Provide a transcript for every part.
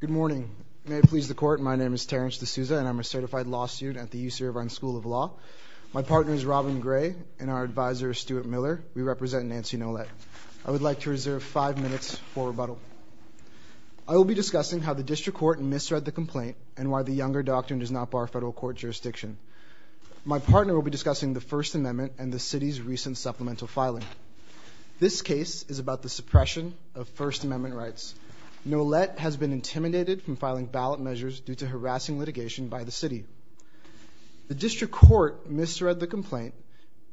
Good morning. May it please the court, my name is Terence D'Souza and I'm a certified law student at the UC Irvine School of Law. My partner is Robin Gray and our advisor is Stuart Miller. We represent Nancy Nolette. I would like to reserve five minutes for rebuttal. I will be discussing how the district court misread the complaint and why the Younger Doctrine does not bar federal court jurisdiction. My partner will be discussing the First Amendment and the city's recent supplemental filing. This case is about the suppression of First Amendment rights. Nolette has been intimidated from filing ballot measures due to harassing litigation by the city. The district court misread the complaint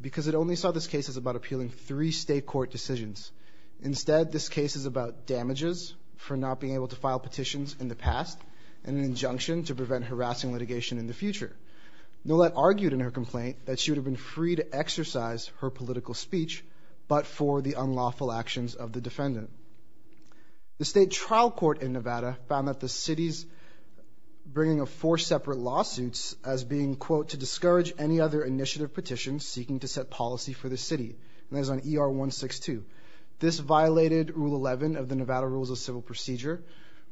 because it only saw this case as about appealing three state court decisions. Instead, this case is about damages for not being able to file petitions in the past and an injunction to prevent harassing litigation in the future. Nolette argued in her complaint that she would have been free to exercise her political speech, but for the unlawful actions of the defendant. The state trial court in Nevada found that the city's bringing of four separate lawsuits as being, quote, to discourage any other initiative petitions seeking to set policy for the city. And that is on ER 162. This violated Rule 11 of the Nevada Rules of Civil Procedure,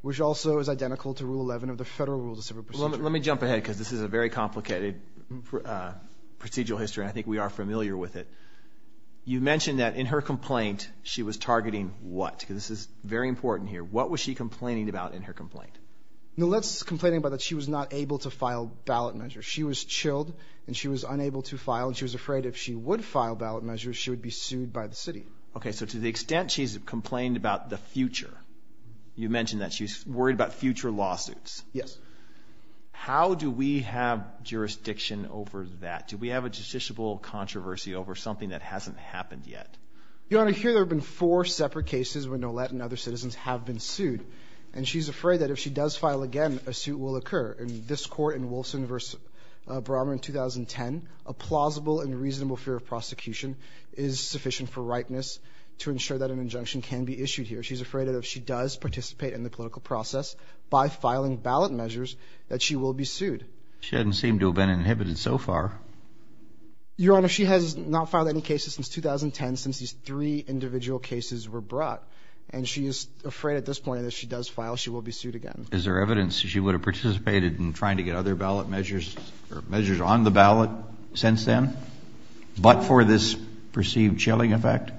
which also is identical to Rule 11 of the Federal Rules of Civil Procedure. Let me jump ahead because this is a very complicated procedural history. I think we are familiar with it. You mentioned that in her complaint, she was targeting what? Because this is very important here. What was she complaining about in her complaint? Nolette's complaining about that she was not able to file ballot measures. She was chilled and she was unable to file and she was afraid if she would file ballot measures, she would be sued by the city. Okay, so to the extent she's complained about the future, you mentioned that she's worried about future lawsuits. Yes. How do we have jurisdiction over that? Do we have a justiciable controversy over something that hasn't happened yet? Your Honor, here there have been four separate cases when Nolette and other citizens have been sued, and she's afraid that if she does file again, a suit will occur. In this court in Wilson v. Brommer in 2010, a plausible and reasonable fear of prosecution is sufficient for ripeness to ensure that an injunction can be issued here. She's afraid that if she does participate in the political process by filing ballot measures, that she will be sued. She doesn't seem to have been inhibited so far. Your Honor, she has not filed any cases since 2010, since these three individual cases were brought, and she is afraid at this point that if she does file, she will be sued again. Is there evidence that she would have participated in trying to get other ballot measures or measures on the ballot since then, but for this perceived chilling effect?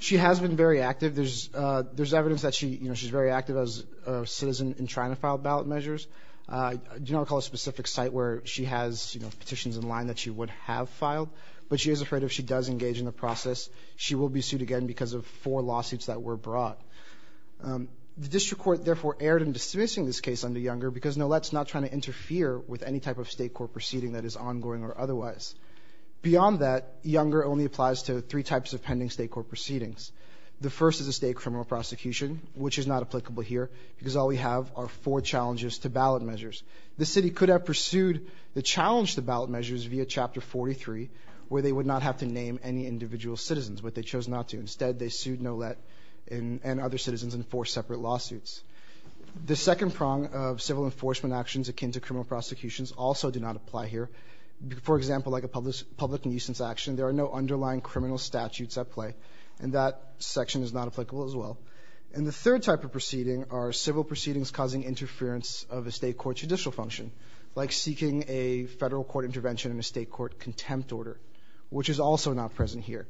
She has been very active. There's evidence that she's very active as a citizen in trying to file ballot measures. I do not recall a specific site where she has petitions in line that she would have filed, but she is afraid if she does engage in the process, she will be sued again because of four lawsuits that were brought. The district court therefore erred in dismissing this case under Younger because Nolette's not trying to interfere with any type of state court proceeding that is ongoing or otherwise. Beyond that, Younger only applies to three types of pending state court proceedings. The first is a state criminal prosecution, which is not applicable here because all we have are four challenges to ballot measures. The city could have pursued the challenge to ballot measures via Chapter 43, where they would not have to name any individual citizens, but they chose not to. Instead, they sued Nolette and other citizens in four separate lawsuits. The second prong of civil enforcement actions akin to criminal prosecutions also do not apply here. For example, like a public nuisance action, there are no underlying criminal statutes at play, and that section is not applicable as well. And the third type of proceeding are civil proceedings causing interference of a state court judicial function, like seeking a federal court intervention in a state court contempt order, which is also not present here.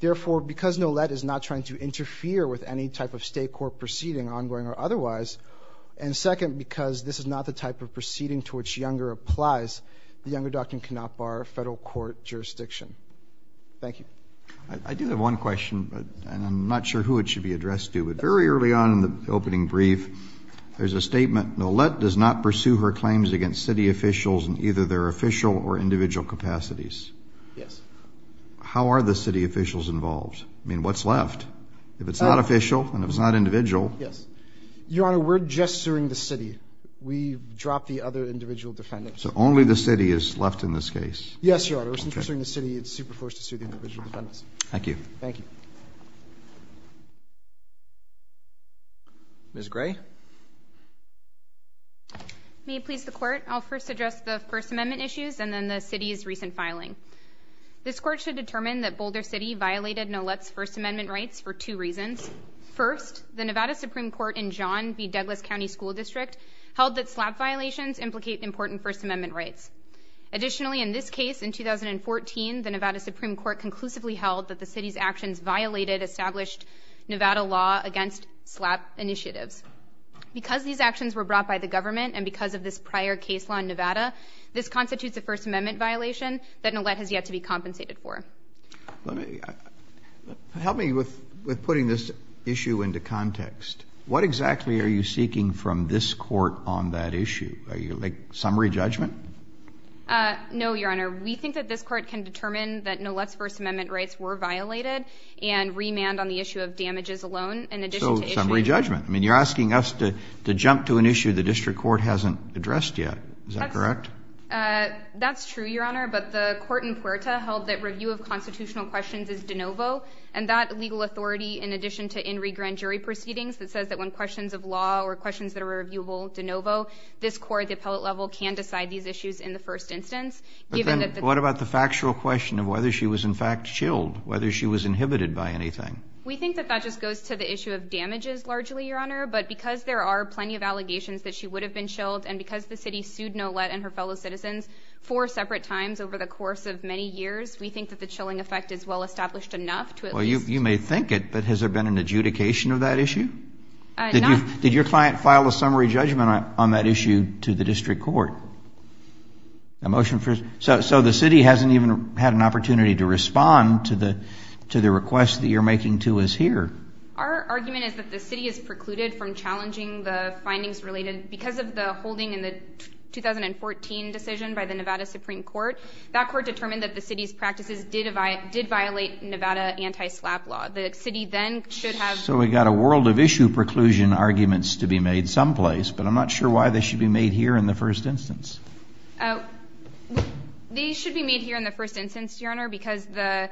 Therefore, because Nolette is not trying to interfere with any type of state court proceeding ongoing or otherwise, and second, because this is not the type of proceeding to which Younger applies, the Younger document cannot bar federal court jurisdiction. Thank you. I do have one question, but I'm not sure who it should be addressed to. But very early on in the opening brief, there's a statement, Nolette does not pursue her claims against city officials in either their official or individual capacities. Yes. How are the city officials involved? I mean, what's left? If it's not official and if it's not individual? Yes. Your Honor, we're just suing the city. We dropped the other individual defendant. So only the city is left in this case? Yes, Your Honor. Since we're suing the city, it's super forced to sue the individual defendants. Thank you. Thank you. Ms. Gray. May it please the court, I'll first address the First Amendment issues and then the city's recent filing. This court should determine that Boulder City violated Nolette's First Amendment rights for two reasons. First, the Nevada Supreme Court in John B. Douglas County School District held that SLAPP violations implicate important First Amendment rights. Additionally, in this case, in 2014, the Nevada Supreme Court conclusively held that the city's actions violated established Nevada law against SLAPP initiatives. Because these actions were brought by the government and because of this prior case law in Nevada, this constitutes a First Amendment violation that Nolette has yet to be compensated for. Help me with putting this issue into context. What exactly are you seeking from this court on that issue? Are you, like, summary judgment? No, Your Honor. We think that this court can determine that Nolette's First Amendment rights were violated and remand on the issue of damages alone in addition to issuing... So summary judgment. I mean, you're asking us to jump to an issue the district court hasn't addressed yet. Is that correct? That's true, Your Honor, but the court in Puerta held that review of constitutional questions is de novo, and that legal authority, in addition to in regrand jury proceedings that says that when questions of law or questions that are reviewable, de novo, this court, the appellate level, can decide these issues in the first instance, given that... But then what about the factual question of whether she was in fact chilled, whether she was inhibited by anything? We think that that just goes to the issue of damages largely, Your Honor, but because there are plenty of allegations that she would have been chilled and because the city sued Nolette and her fellow citizens four separate times over the course of many years, we think that the chilling effect is well established enough to at least... Well, you may think it, but has there been an adjudication of that issue? Not... Did your client file a summary judgment on that issue to the district court? A motion for... So the city hasn't even had an opportunity to respond to the request that you're making to us here. Because of the holding in the 2014 decision by the Nevada Supreme Court, that court determined that the city's practices did violate Nevada anti-SLAPP law. The city then should have... So we've got a world of issue preclusion arguments to be made someplace, but I'm not sure why they should be made here in the first instance. They should be made here in the first instance, Your Honor, because the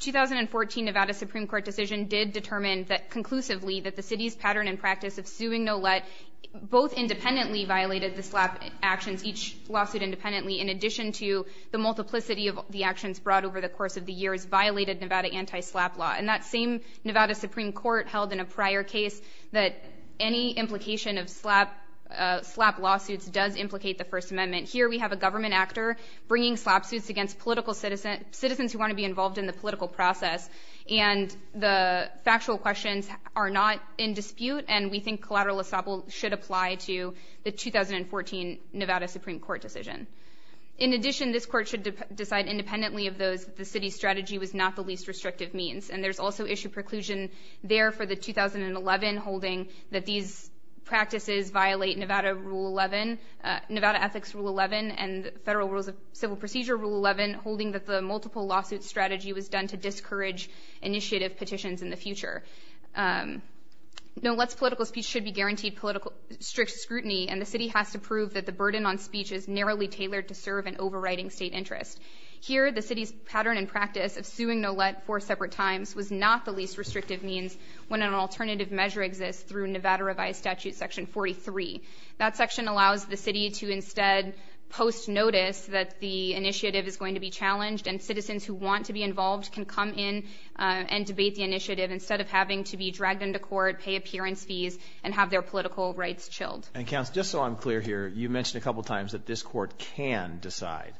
2014 Nevada Supreme Court decision did determine conclusively that the city's pattern and practice of suing Nolette both independently violated the SLAPP actions, each lawsuit independently, in addition to the multiplicity of the actions brought over the course of the years violated Nevada anti-SLAPP law. And that same Nevada Supreme Court held in a prior case that any implication of SLAPP lawsuits does implicate the First Amendment. Here, we have a government actor bringing SLAPP suits against citizens who want to be involved in the political process, and the Nevada Supreme Court decision. In addition, this court should decide independently of those that the city's strategy was not the least restrictive means. And there's also issue preclusion there for the 2011 holding that these practices violate Nevada Rule 11, Nevada Ethics Rule 11, and the Federal Rules of Civil Procedure Rule 11, holding that the multiple lawsuit strategy was done to discourage initiative petitions in the future. Nolette's political speech should be guaranteed strict scrutiny, and the city has to prove that the burden on speech is narrowly tailored to serve an overriding state interest. Here, the city's pattern and practice of suing Nolette four separate times was not the least restrictive means when an alternative measure exists through Nevada Revised Statute Section 43. That section allows the city to instead post notice that the initiative is going to be challenged and debate the initiative instead of having to be dragged into court, pay appearance fees, and have their political rights chilled. And counsel, just so I'm clear here, you mentioned a couple times that this court can decide.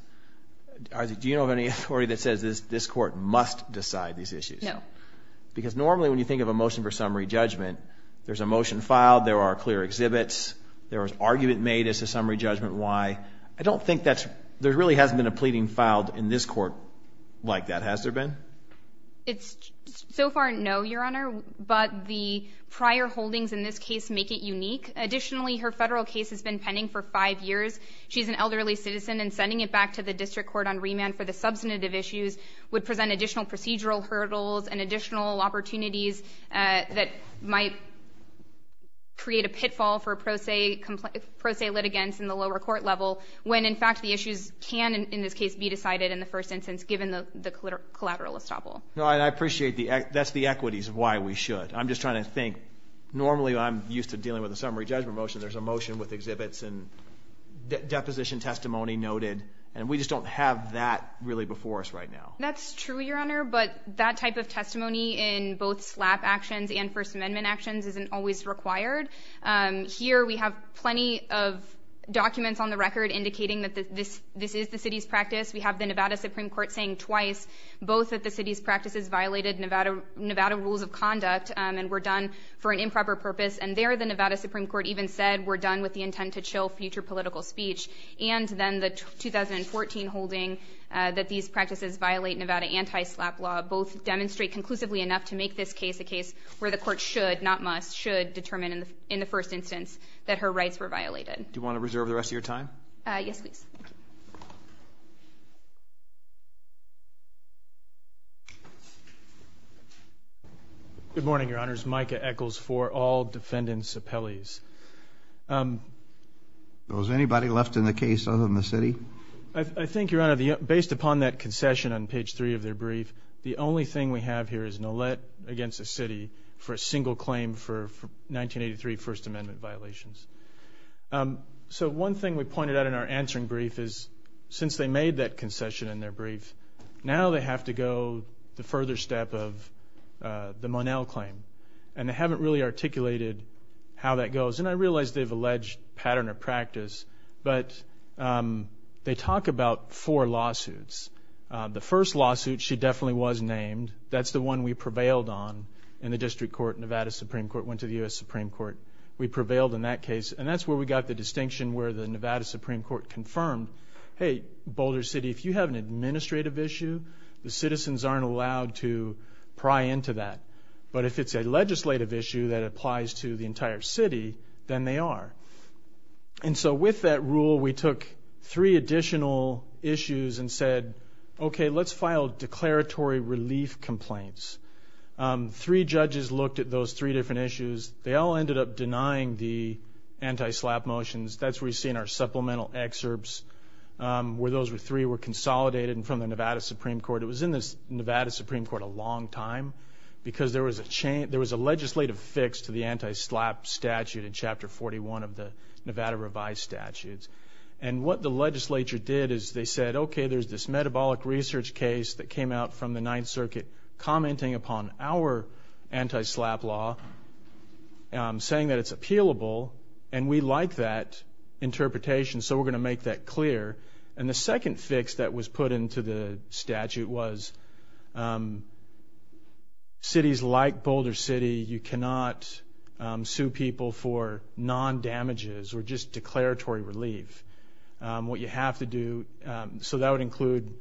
Do you know of any authority that says this court must decide these issues? No. Because normally when you think of a motion for summary judgment, there's a motion filed, there are clear exhibits, there was argument made as to summary judgment why. I don't think that's, there really hasn't been a pleading filed in this court like that, has there been? It's, so far, no, Your Honor, but the prior holdings in this case make it unique. Additionally, her federal case has been pending for five years. She's an elderly citizen and sending it back to the district court on remand for the substantive issues would present additional procedural hurdles and additional opportunities that might create a pitfall for pro se litigants in the lower court level when, in fact, the issues can, in this case, be decided in the collateral estoppel. No, and I appreciate the, that's the equities of why we should. I'm just trying to think, normally I'm used to dealing with a summary judgment motion, there's a motion with exhibits and deposition testimony noted, and we just don't have that really before us right now. That's true, Your Honor, but that type of testimony in both SLAPP actions and First Amendment actions isn't always required. Here, we have plenty of documents on the record indicating that this is the city's practice. We have the Nevada Supreme Court saying twice both that the city's practices violated Nevada rules of conduct and were done for an improper purpose, and there the Nevada Supreme Court even said were done with the intent to chill future political speech, and then the 2014 holding that these practices violate Nevada anti-SLAPP law both demonstrate conclusively enough to make this case a case where the court should, not must, should determine in the first instance that her rights were violated. Do you want to reserve the rest of your time? Yes, please. Good morning, Your Honors. Micah Echols for all defendants' appellees. Well, is anybody left in the case other than the city? I think, Your Honor, based upon that concession on page three of their brief, the only thing we have here is Nolet against the city for a single claim for 1983 First Amendment violations. So one thing we pointed out in our answering brief is since they made that concession in their brief, now they have to go the further step of the Monell claim, and they haven't really articulated how that goes, and I realize they've alleged pattern or practice, but they talk about four lawsuits. The first lawsuit, she definitely was named. That's the one we prevailed on in the district court, Nevada Supreme Court went to the U.S. Supreme Court. We prevailed in that case, and that's where we got the distinction where the Nevada Supreme Court confirmed, hey, Boulder City, if you have an administrative issue, the citizens aren't allowed to pry into that, but if it's a legislative issue that applies to the entire city, then they are. And so with that rule, we took three additional issues and said, okay, let's file declaratory relief complaints. Three judges looked at those three different issues. They all ended up denying the anti-SLAPP motions. That's where we've seen our supplemental excerpts where those three were consolidated from the Nevada Supreme Court. It was in the Nevada Supreme Court a long time because there was a legislative fix to the anti-SLAPP statute in Chapter 41 of the Nevada Revised Statutes, and what the legislature did is they said, okay, there's this metabolic research case that came out from the Ninth Circuit commenting upon our anti-SLAPP law, saying that it's appealable, and we like that interpretation, so we're going to make that clear. And the second fix that was put into the statute was cities like Boulder City, you cannot sue people for non-damages or just declaratory relief. What you have to do, so that would include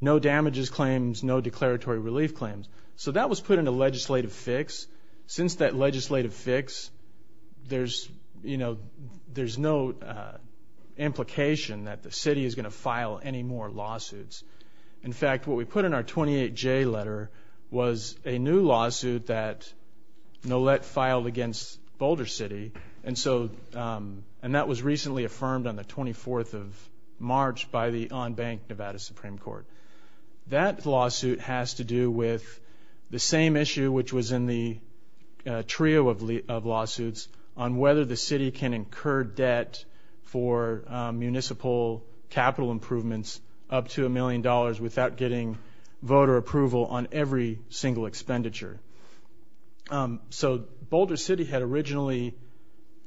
no damages claims, no declaratory relief claims. So that was put in a legislative fix. Since that legislative fix, there's no implication that the city is going to file any more lawsuits. In fact, what we put in our 28J letter was a new lawsuit that NOLET filed against Boulder City, and that was recently affirmed on the 24th of March by the on-bank Nevada Supreme Court. That lawsuit has to do with the same issue which was in the trio of lawsuits on whether the city can incur debt for municipal capital improvements up to a million dollars without getting voter approval on every single expenditure. So Boulder City had originally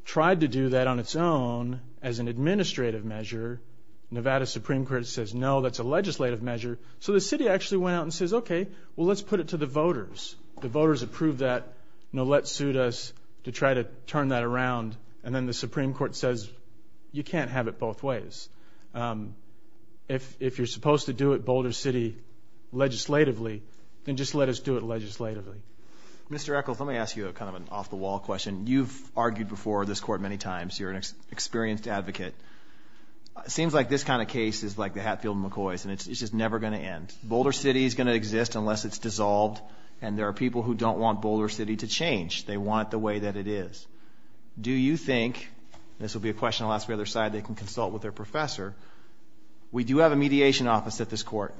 tried to do that on its own as an administrative measure. Nevada Supreme Court says, no, that's a legislative measure. So the city actually went out and says, okay, well let's put it to the voters. The voters approve that. NOLET sued us to try to turn that around, and then the Supreme Court says, you can't have it both ways. If you're supposed to do it Boulder City legislatively, then just let us do it legislatively. Mr. Eccles, let me ask you kind of an off-the-wall question. You've argued before this court many times. You're an experienced advocate. It seems like this kind of case is like the Hatfield-McCoys, and it's just never going to end. Boulder City is going to exist unless it's dissolved, and there are people who don't want Boulder City to change. They want the way that it is. Do you think, and this will be a question I'll ask the other side. They can consult with their professor. We do have a mediation office at this court.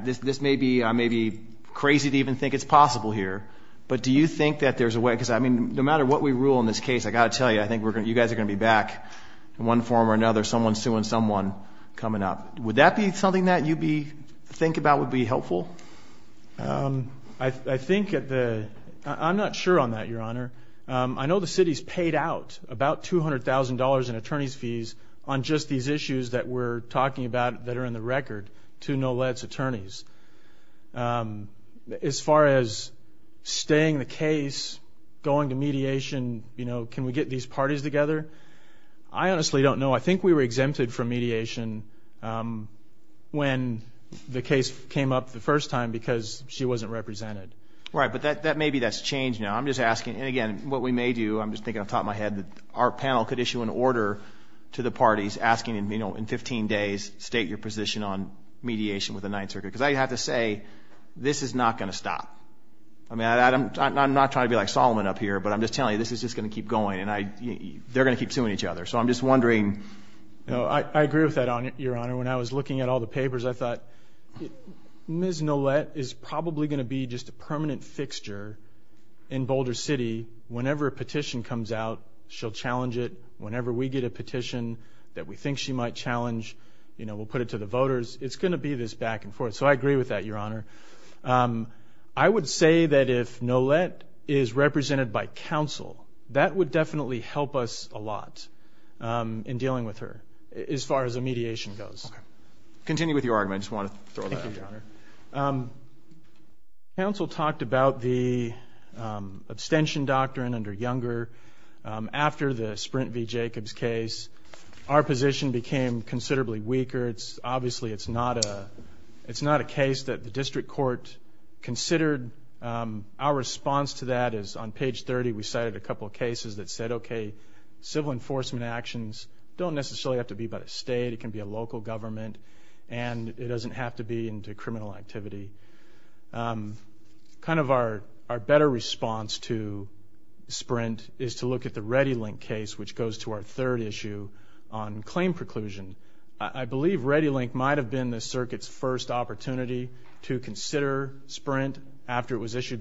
This may be crazy to even think it's possible here, but do you think that there's a way, because no matter what we rule in this case, I've got to tell you, I think you guys are going to be back in one form or another, someone suing someone coming up. Would that be something that you think about would be helpful? I think at the, I'm not sure on that, Your Honor. I know the city's paid out about $200,000 in attorney's fees on just these issues that we're talking about that are in the record to Nolet's attorneys. As far as staying the case, going to mediation, can we get these parties together? I honestly don't know. I think we were exempted from mediation when the case came up the first time because she wasn't represented. Right, but maybe that's changed now. I'm just asking, and again, what we may do, I'm just thinking off the top of my head, our panel could issue an order to the parties asking in 15 days, state your position on mediation with the Ninth Circuit, because I have to say, this is not going to stop. I'm not trying to be like Solomon up here, but I'm just telling you, this is just going to keep going, and they're going to keep suing each other. I agree with that, Your Honor. When I was looking at all the papers, I thought, Ms. Nolet is probably going to be just a permanent fixture in Boulder City. Whenever a petition comes out, she'll challenge it. Whenever we get a petition that we think she might challenge, we'll put it to the voters. It's going to be this back and forth, so I agree with that, Your Honor. I would say that if Nolet is represented by counsel, that would definitely help us a lot in dealing with her, as far as a mediation goes. Continue with your argument. I just want to throw that out there. Thank you, Your Honor. Counsel talked about the abstention doctrine under Younger. After the Sprint v. Jacobs case, our position became considerably weaker. Obviously, it's not a case that the Supreme Court can't decide. In page 30, we cited a couple of cases that said, okay, civil enforcement actions don't necessarily have to be by the state. It can be a local government, and it doesn't have to be into criminal activity. Kind of our better response to Sprint is to look at the ReadyLink case, which goes to our third issue on claim preclusion. I believe ReadyLink might have been the circuit's first opportunity to consider Sprint after it was released. It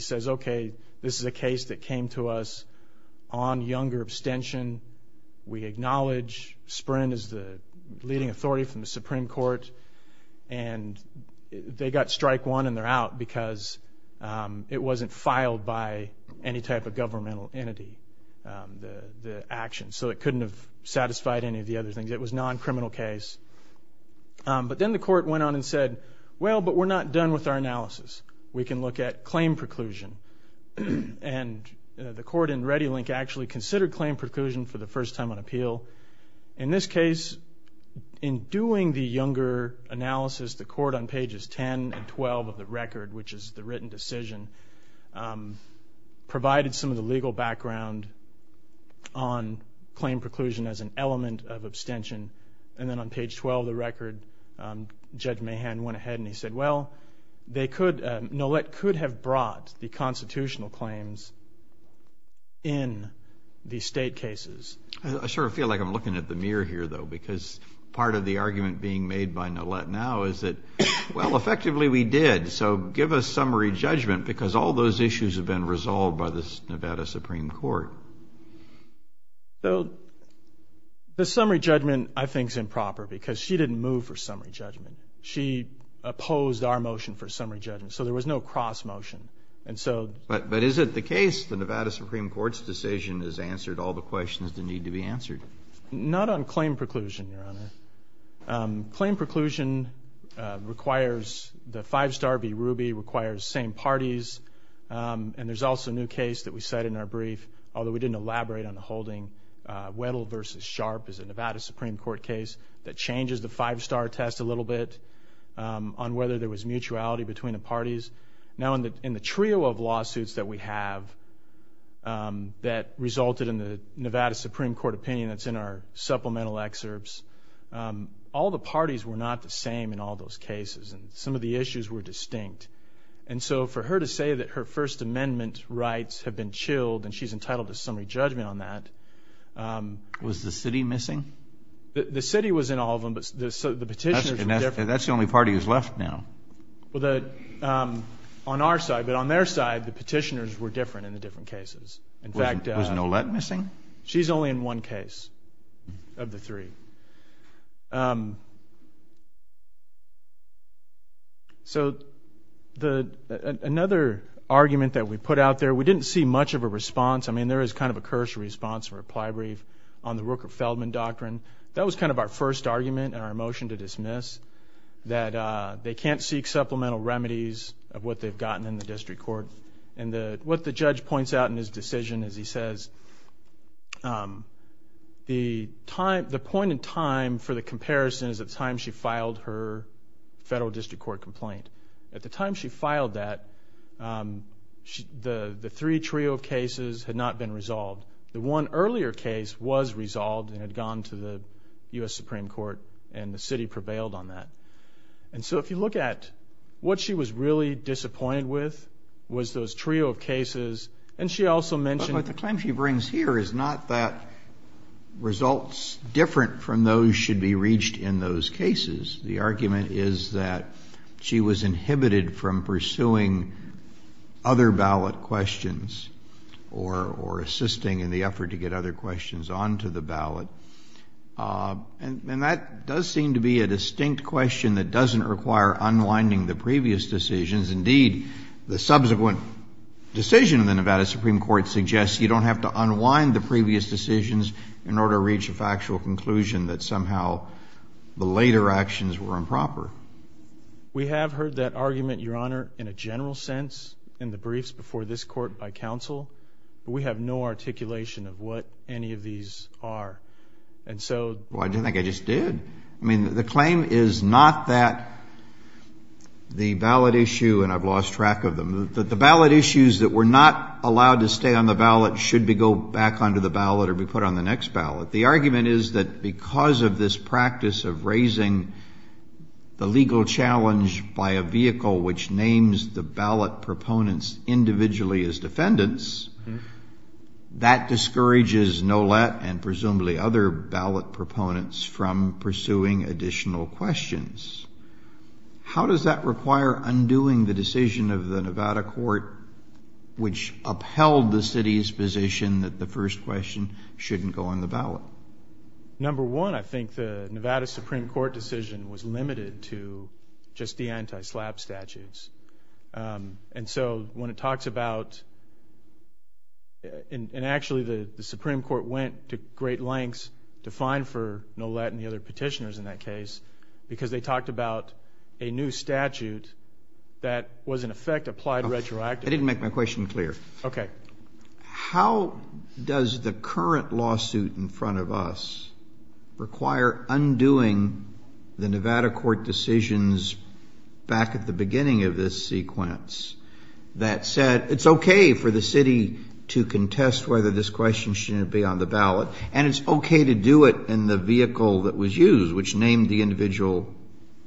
says, okay, this is a case that came to us on Younger abstention. We acknowledge Sprint is the leading authority from the Supreme Court. They got strike one, and they're out because it wasn't filed by any type of governmental entity, the action, so it couldn't have satisfied any of the other things. It was a non-criminal case. Then the court went on and said, well, but we're not done with our analysis. We can look at claim preclusion, and the court in ReadyLink actually considered claim preclusion for the first time on appeal. In this case, in doing the Younger analysis, the court on pages 10 and 12 of the record, which is the written decision, provided some of the legal background on claim preclusion as an element of abstention. Then on page 12 of the record, Judge Mahan went ahead and he said, well, they could, Nolet could have brought the constitutional claims in the state cases. I sort of feel like I'm looking at the mirror here, though, because part of the argument being made by Nolet now is that, well, effectively we did, so give us summary judgment, because all those issues have been resolved by the Nevada Supreme Court. Well, the summary judgment, I think, is improper, because she didn't move for summary judgment. She opposed our motion for summary judgment, so there was no cross-motion, and so But, but is it the case the Nevada Supreme Court's decision has answered all the questions that need to be answered? Not on claim preclusion, Your Honor. Claim preclusion requires the five-star v. Ruby, requires same parties, and there's also a new case that we cite in our brief, although we didn't elaborate on the holding. Weddle v. Sharp is a Nevada Supreme Court case that changes the five-star test a little bit on whether there was mutuality between the parties. Now in the trio of lawsuits that we have that resulted in the Nevada Supreme Court opinion that's in our supplemental excerpts, all the parties were not the same in all those cases, and some of the issues were distinct, and so for her to say that her First Amendment rights have been chilled, and she's entitled to summary judgment on that Was the city missing? The city was in all of them, but the petitioners were different. That's the only party who's left now. On our side, but on their side, the petitioners were different in the different cases. Was Nolette missing? She's only in one case of the three. So another argument that we put out there, we didn't see much of a response. I mean, there is kind of a cursory response, a reply brief on the Rooker-Feldman doctrine. That was kind of our first argument and our motion to dismiss, that they can't seek supplemental remedies of what they've gotten in the district court, and what the judge points out in his report. The point in time for the comparison is the time she filed her federal district court complaint. At the time she filed that, the three trio of cases had not been resolved. The one earlier case was resolved and had gone to the U.S. Supreme Court, and the city prevailed on that. And so if you look at what she was really disappointed with, was those trio of cases, and she also mentioned What the claim she brings here is not that results different from those should be reached in those cases. The argument is that she was inhibited from pursuing other ballot questions or assisting in the effort to get other questions onto the ballot. And that does seem to be a distinct question that doesn't require unwinding the previous decisions. Indeed, the subsequent decision in the Nevada Supreme Court suggests you don't have to unwind the previous decisions in order to reach a factual conclusion that somehow the later actions were improper. We have heard that argument, Your Honor, in a general sense in the briefs before this court by counsel, but we have no articulation of what any of these are. And so Well, I don't think I just did. I mean, the claim is not that the ballot issue, and I've lost track of them, that the ballot issues that were not allowed to stay on the ballot should be go back onto the ballot or be put on the next ballot. The argument is that because of this practice of raising the legal challenge by a vehicle which names the ballot proponents individually as defendants, that discourages NOLET and presumably other ballot proponents from pursuing additional questions. How does that require undoing the decision of the Nevada court which upheld the city's position that the first question shouldn't go on the ballot? Number one, I think the Nevada Supreme Court decision was limited to just the anti-slap statutes. And so when it talks about, and actually the Supreme Court went to great lengths to fine for NOLET and the other petitioners in that case because they talked about a new statute that was in effect applied retroactively. I didn't make my question clear. Okay. How does the current lawsuit in front of us require undoing the Nevada court decisions back at the beginning of this sequence that said it's okay for the city to contest whether this question shouldn't be on the ballot and it's okay to do it in the vehicle that was used which named the individual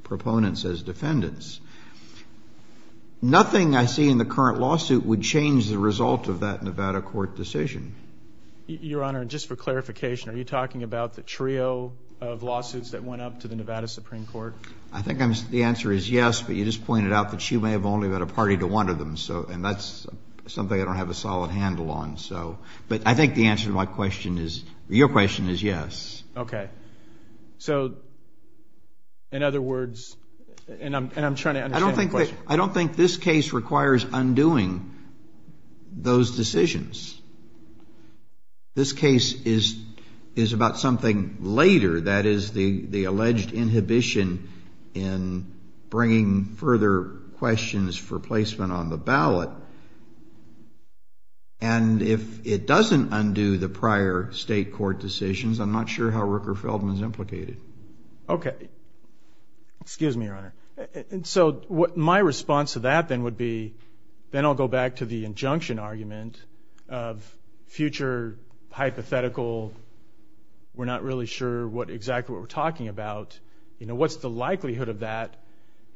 proponents as defendants. Nothing I see in the current lawsuit would change the result of that Nevada court decision. Your Honor, just for clarification, are you talking about the trio of lawsuits that went up to the Nevada Supreme Court? I think the answer is yes, but you just pointed out that she may have only led a party to one of them. And that's something I don't have a solid handle on. But I think the answer to my question is, your question is yes. Okay. So in other words, and I'm trying to understand the question. I don't think this case requires undoing those decisions. This case is about something later, that is, the alleged inhibition in bringing further questions for placement on the ballot, and if it doesn't undo the prior state court decisions, I'm not sure how Rooker-Feldman is implicated. Okay. Excuse me, your Honor. So my response to that then would be, then I'll go back to the injunction argument, of future hypothetical, we're not really sure exactly what we're talking about. You know, what's the likelihood of that?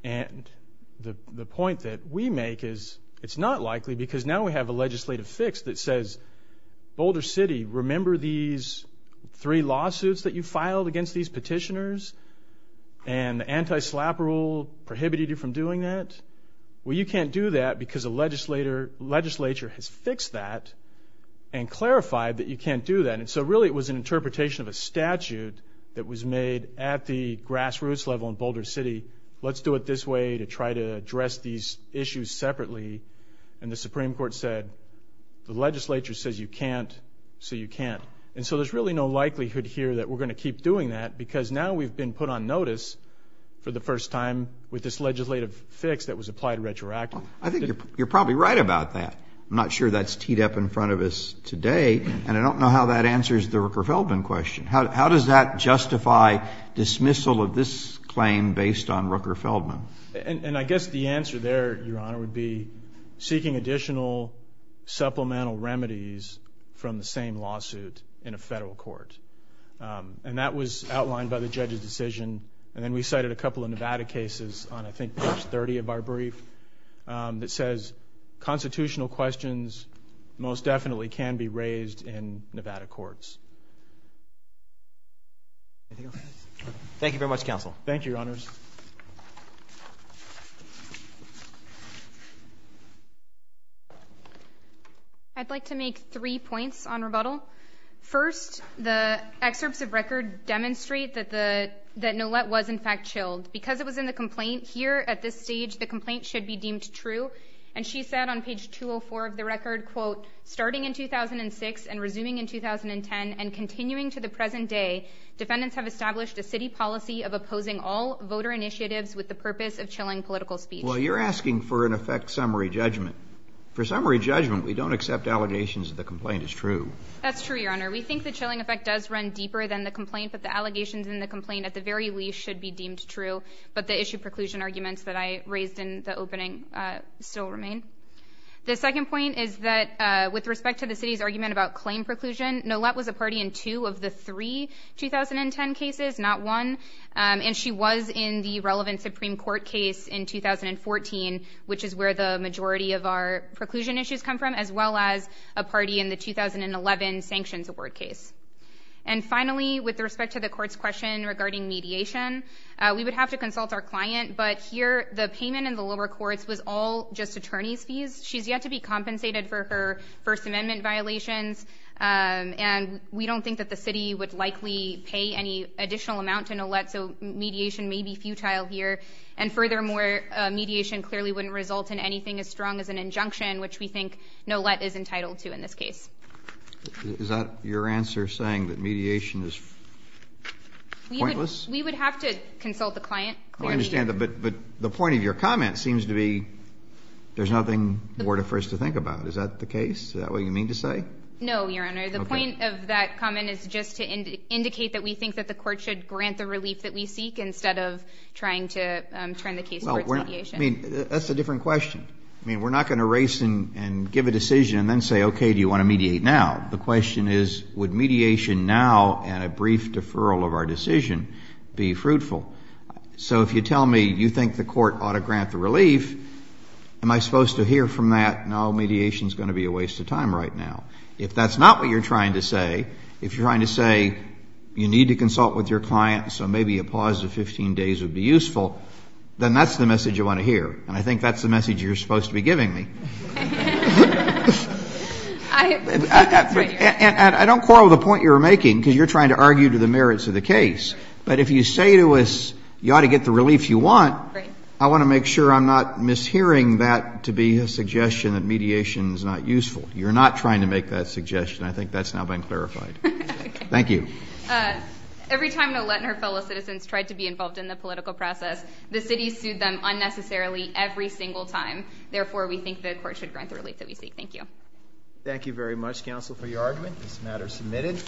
And the point that we make is, it's not likely, because now we have a legislative fix that says, Boulder City, remember these three lawsuits that you filed against these petitioners? And the anti-slap rule prohibited you from doing that? Well, you can't do that because the legislature has fixed that and clarified that you can't do that. And so really it was an interpretation of a statute that was made at the grassroots level in Boulder City, let's do it this way to try to address these issues separately, and the Supreme Court said, the legislature says you can't, so you can't. And so there's really no likelihood here that we're going to keep doing that, because now we've been put on notice for the first time with this legislative fix that was applied retroactively. I think you're probably right about that. I'm not sure that's teed up in front of us today, and I don't know how that answers the Rooker-Feldman question. How does that justify dismissal of this claim based on Rooker-Feldman? And I guess the answer there, your Honor, would be seeking additional supplemental remedies from the same lawsuit in a federal court. And that was outlined by the judge's decision, and then we cited a couple of Nevada cases on I think page 30 of our brief that says, constitutional questions most definitely can be raised in Nevada courts. Thank you very much, Counsel. Thank you, Your Honors. I'd like to make three points on rebuttal. First, the excerpts of record demonstrate that Nolet was in fact chilled. Because it was in the complaint, here at this stage, the complaint should be deemed true. And she said on page 204 of the record, quote, starting in 2006 and resuming in 2010 and continuing to the present day, defendants have established a city policy of opposing all voter initiatives with the purpose of chilling political speech. Well, you're asking for an effect summary judgment. For summary judgment, we don't accept allegations that the complaint is true. That's true, Your Honor. We think the chilling effect does run deeper than the complaint, but the allegations in the complaint at the very least should be deemed true. But the issue preclusion arguments that I raised in the opening still remain. The second point is that with respect to the city's argument about claim preclusion, Nolet was a party in two of the three 2010 cases, not one. And she was in the relevant Supreme Court case in 2014, which is where the majority of our preclusion issues come from, as well as a party in the 2011 sanctions award case. And finally, with respect to the court's question regarding mediation, we would have to consult our client. But here, the payment in the lower courts was all just attorney's fees. She's yet to be compensated for her First Amendment violations. And we don't think that the city would likely pay any additional amount to Nolet, so mediation may be futile here. And furthermore, mediation clearly wouldn't result in anything as strong as an injunction, which we think Nolet is entitled to in this case. Is that your answer, saying that mediation is pointless? We would have to consult the client. I understand, but the point of your comment seems to be there's nothing more for us to think about. Is that the case? Is that what you mean to say? No, Your Honor. The point of that comment is just to indicate that we think that the court should turn the case towards mediation. I mean, that's a different question. I mean, we're not going to race and give a decision and then say, okay, do you want to mediate now? The question is, would mediation now and a brief deferral of our decision be fruitful? So if you tell me you think the court ought to grant the relief, am I supposed to hear from that, no, mediation is going to be a waste of time right now? If that's not what you're trying to say, if you're trying to say you need to consult with your client so maybe a pause of 15 days would be useful, then that's the message you want to hear, and I think that's the message you're supposed to be giving me. And I don't quarrel with the point you're making because you're trying to argue to the merits of the case, but if you say to us you ought to get the relief you want, I want to make sure I'm not mishearing that to be a suggestion that mediation is not useful. You're not trying to make that suggestion. I think that's now been clarified. Thank you. Every time Nolet and her fellow citizens tried to be involved in the political process, the city sued them unnecessarily every single time. Therefore, we think the court should grant the relief that we seek. Thank you. Thank you very much, counsel, for your argument. This matter is submitted.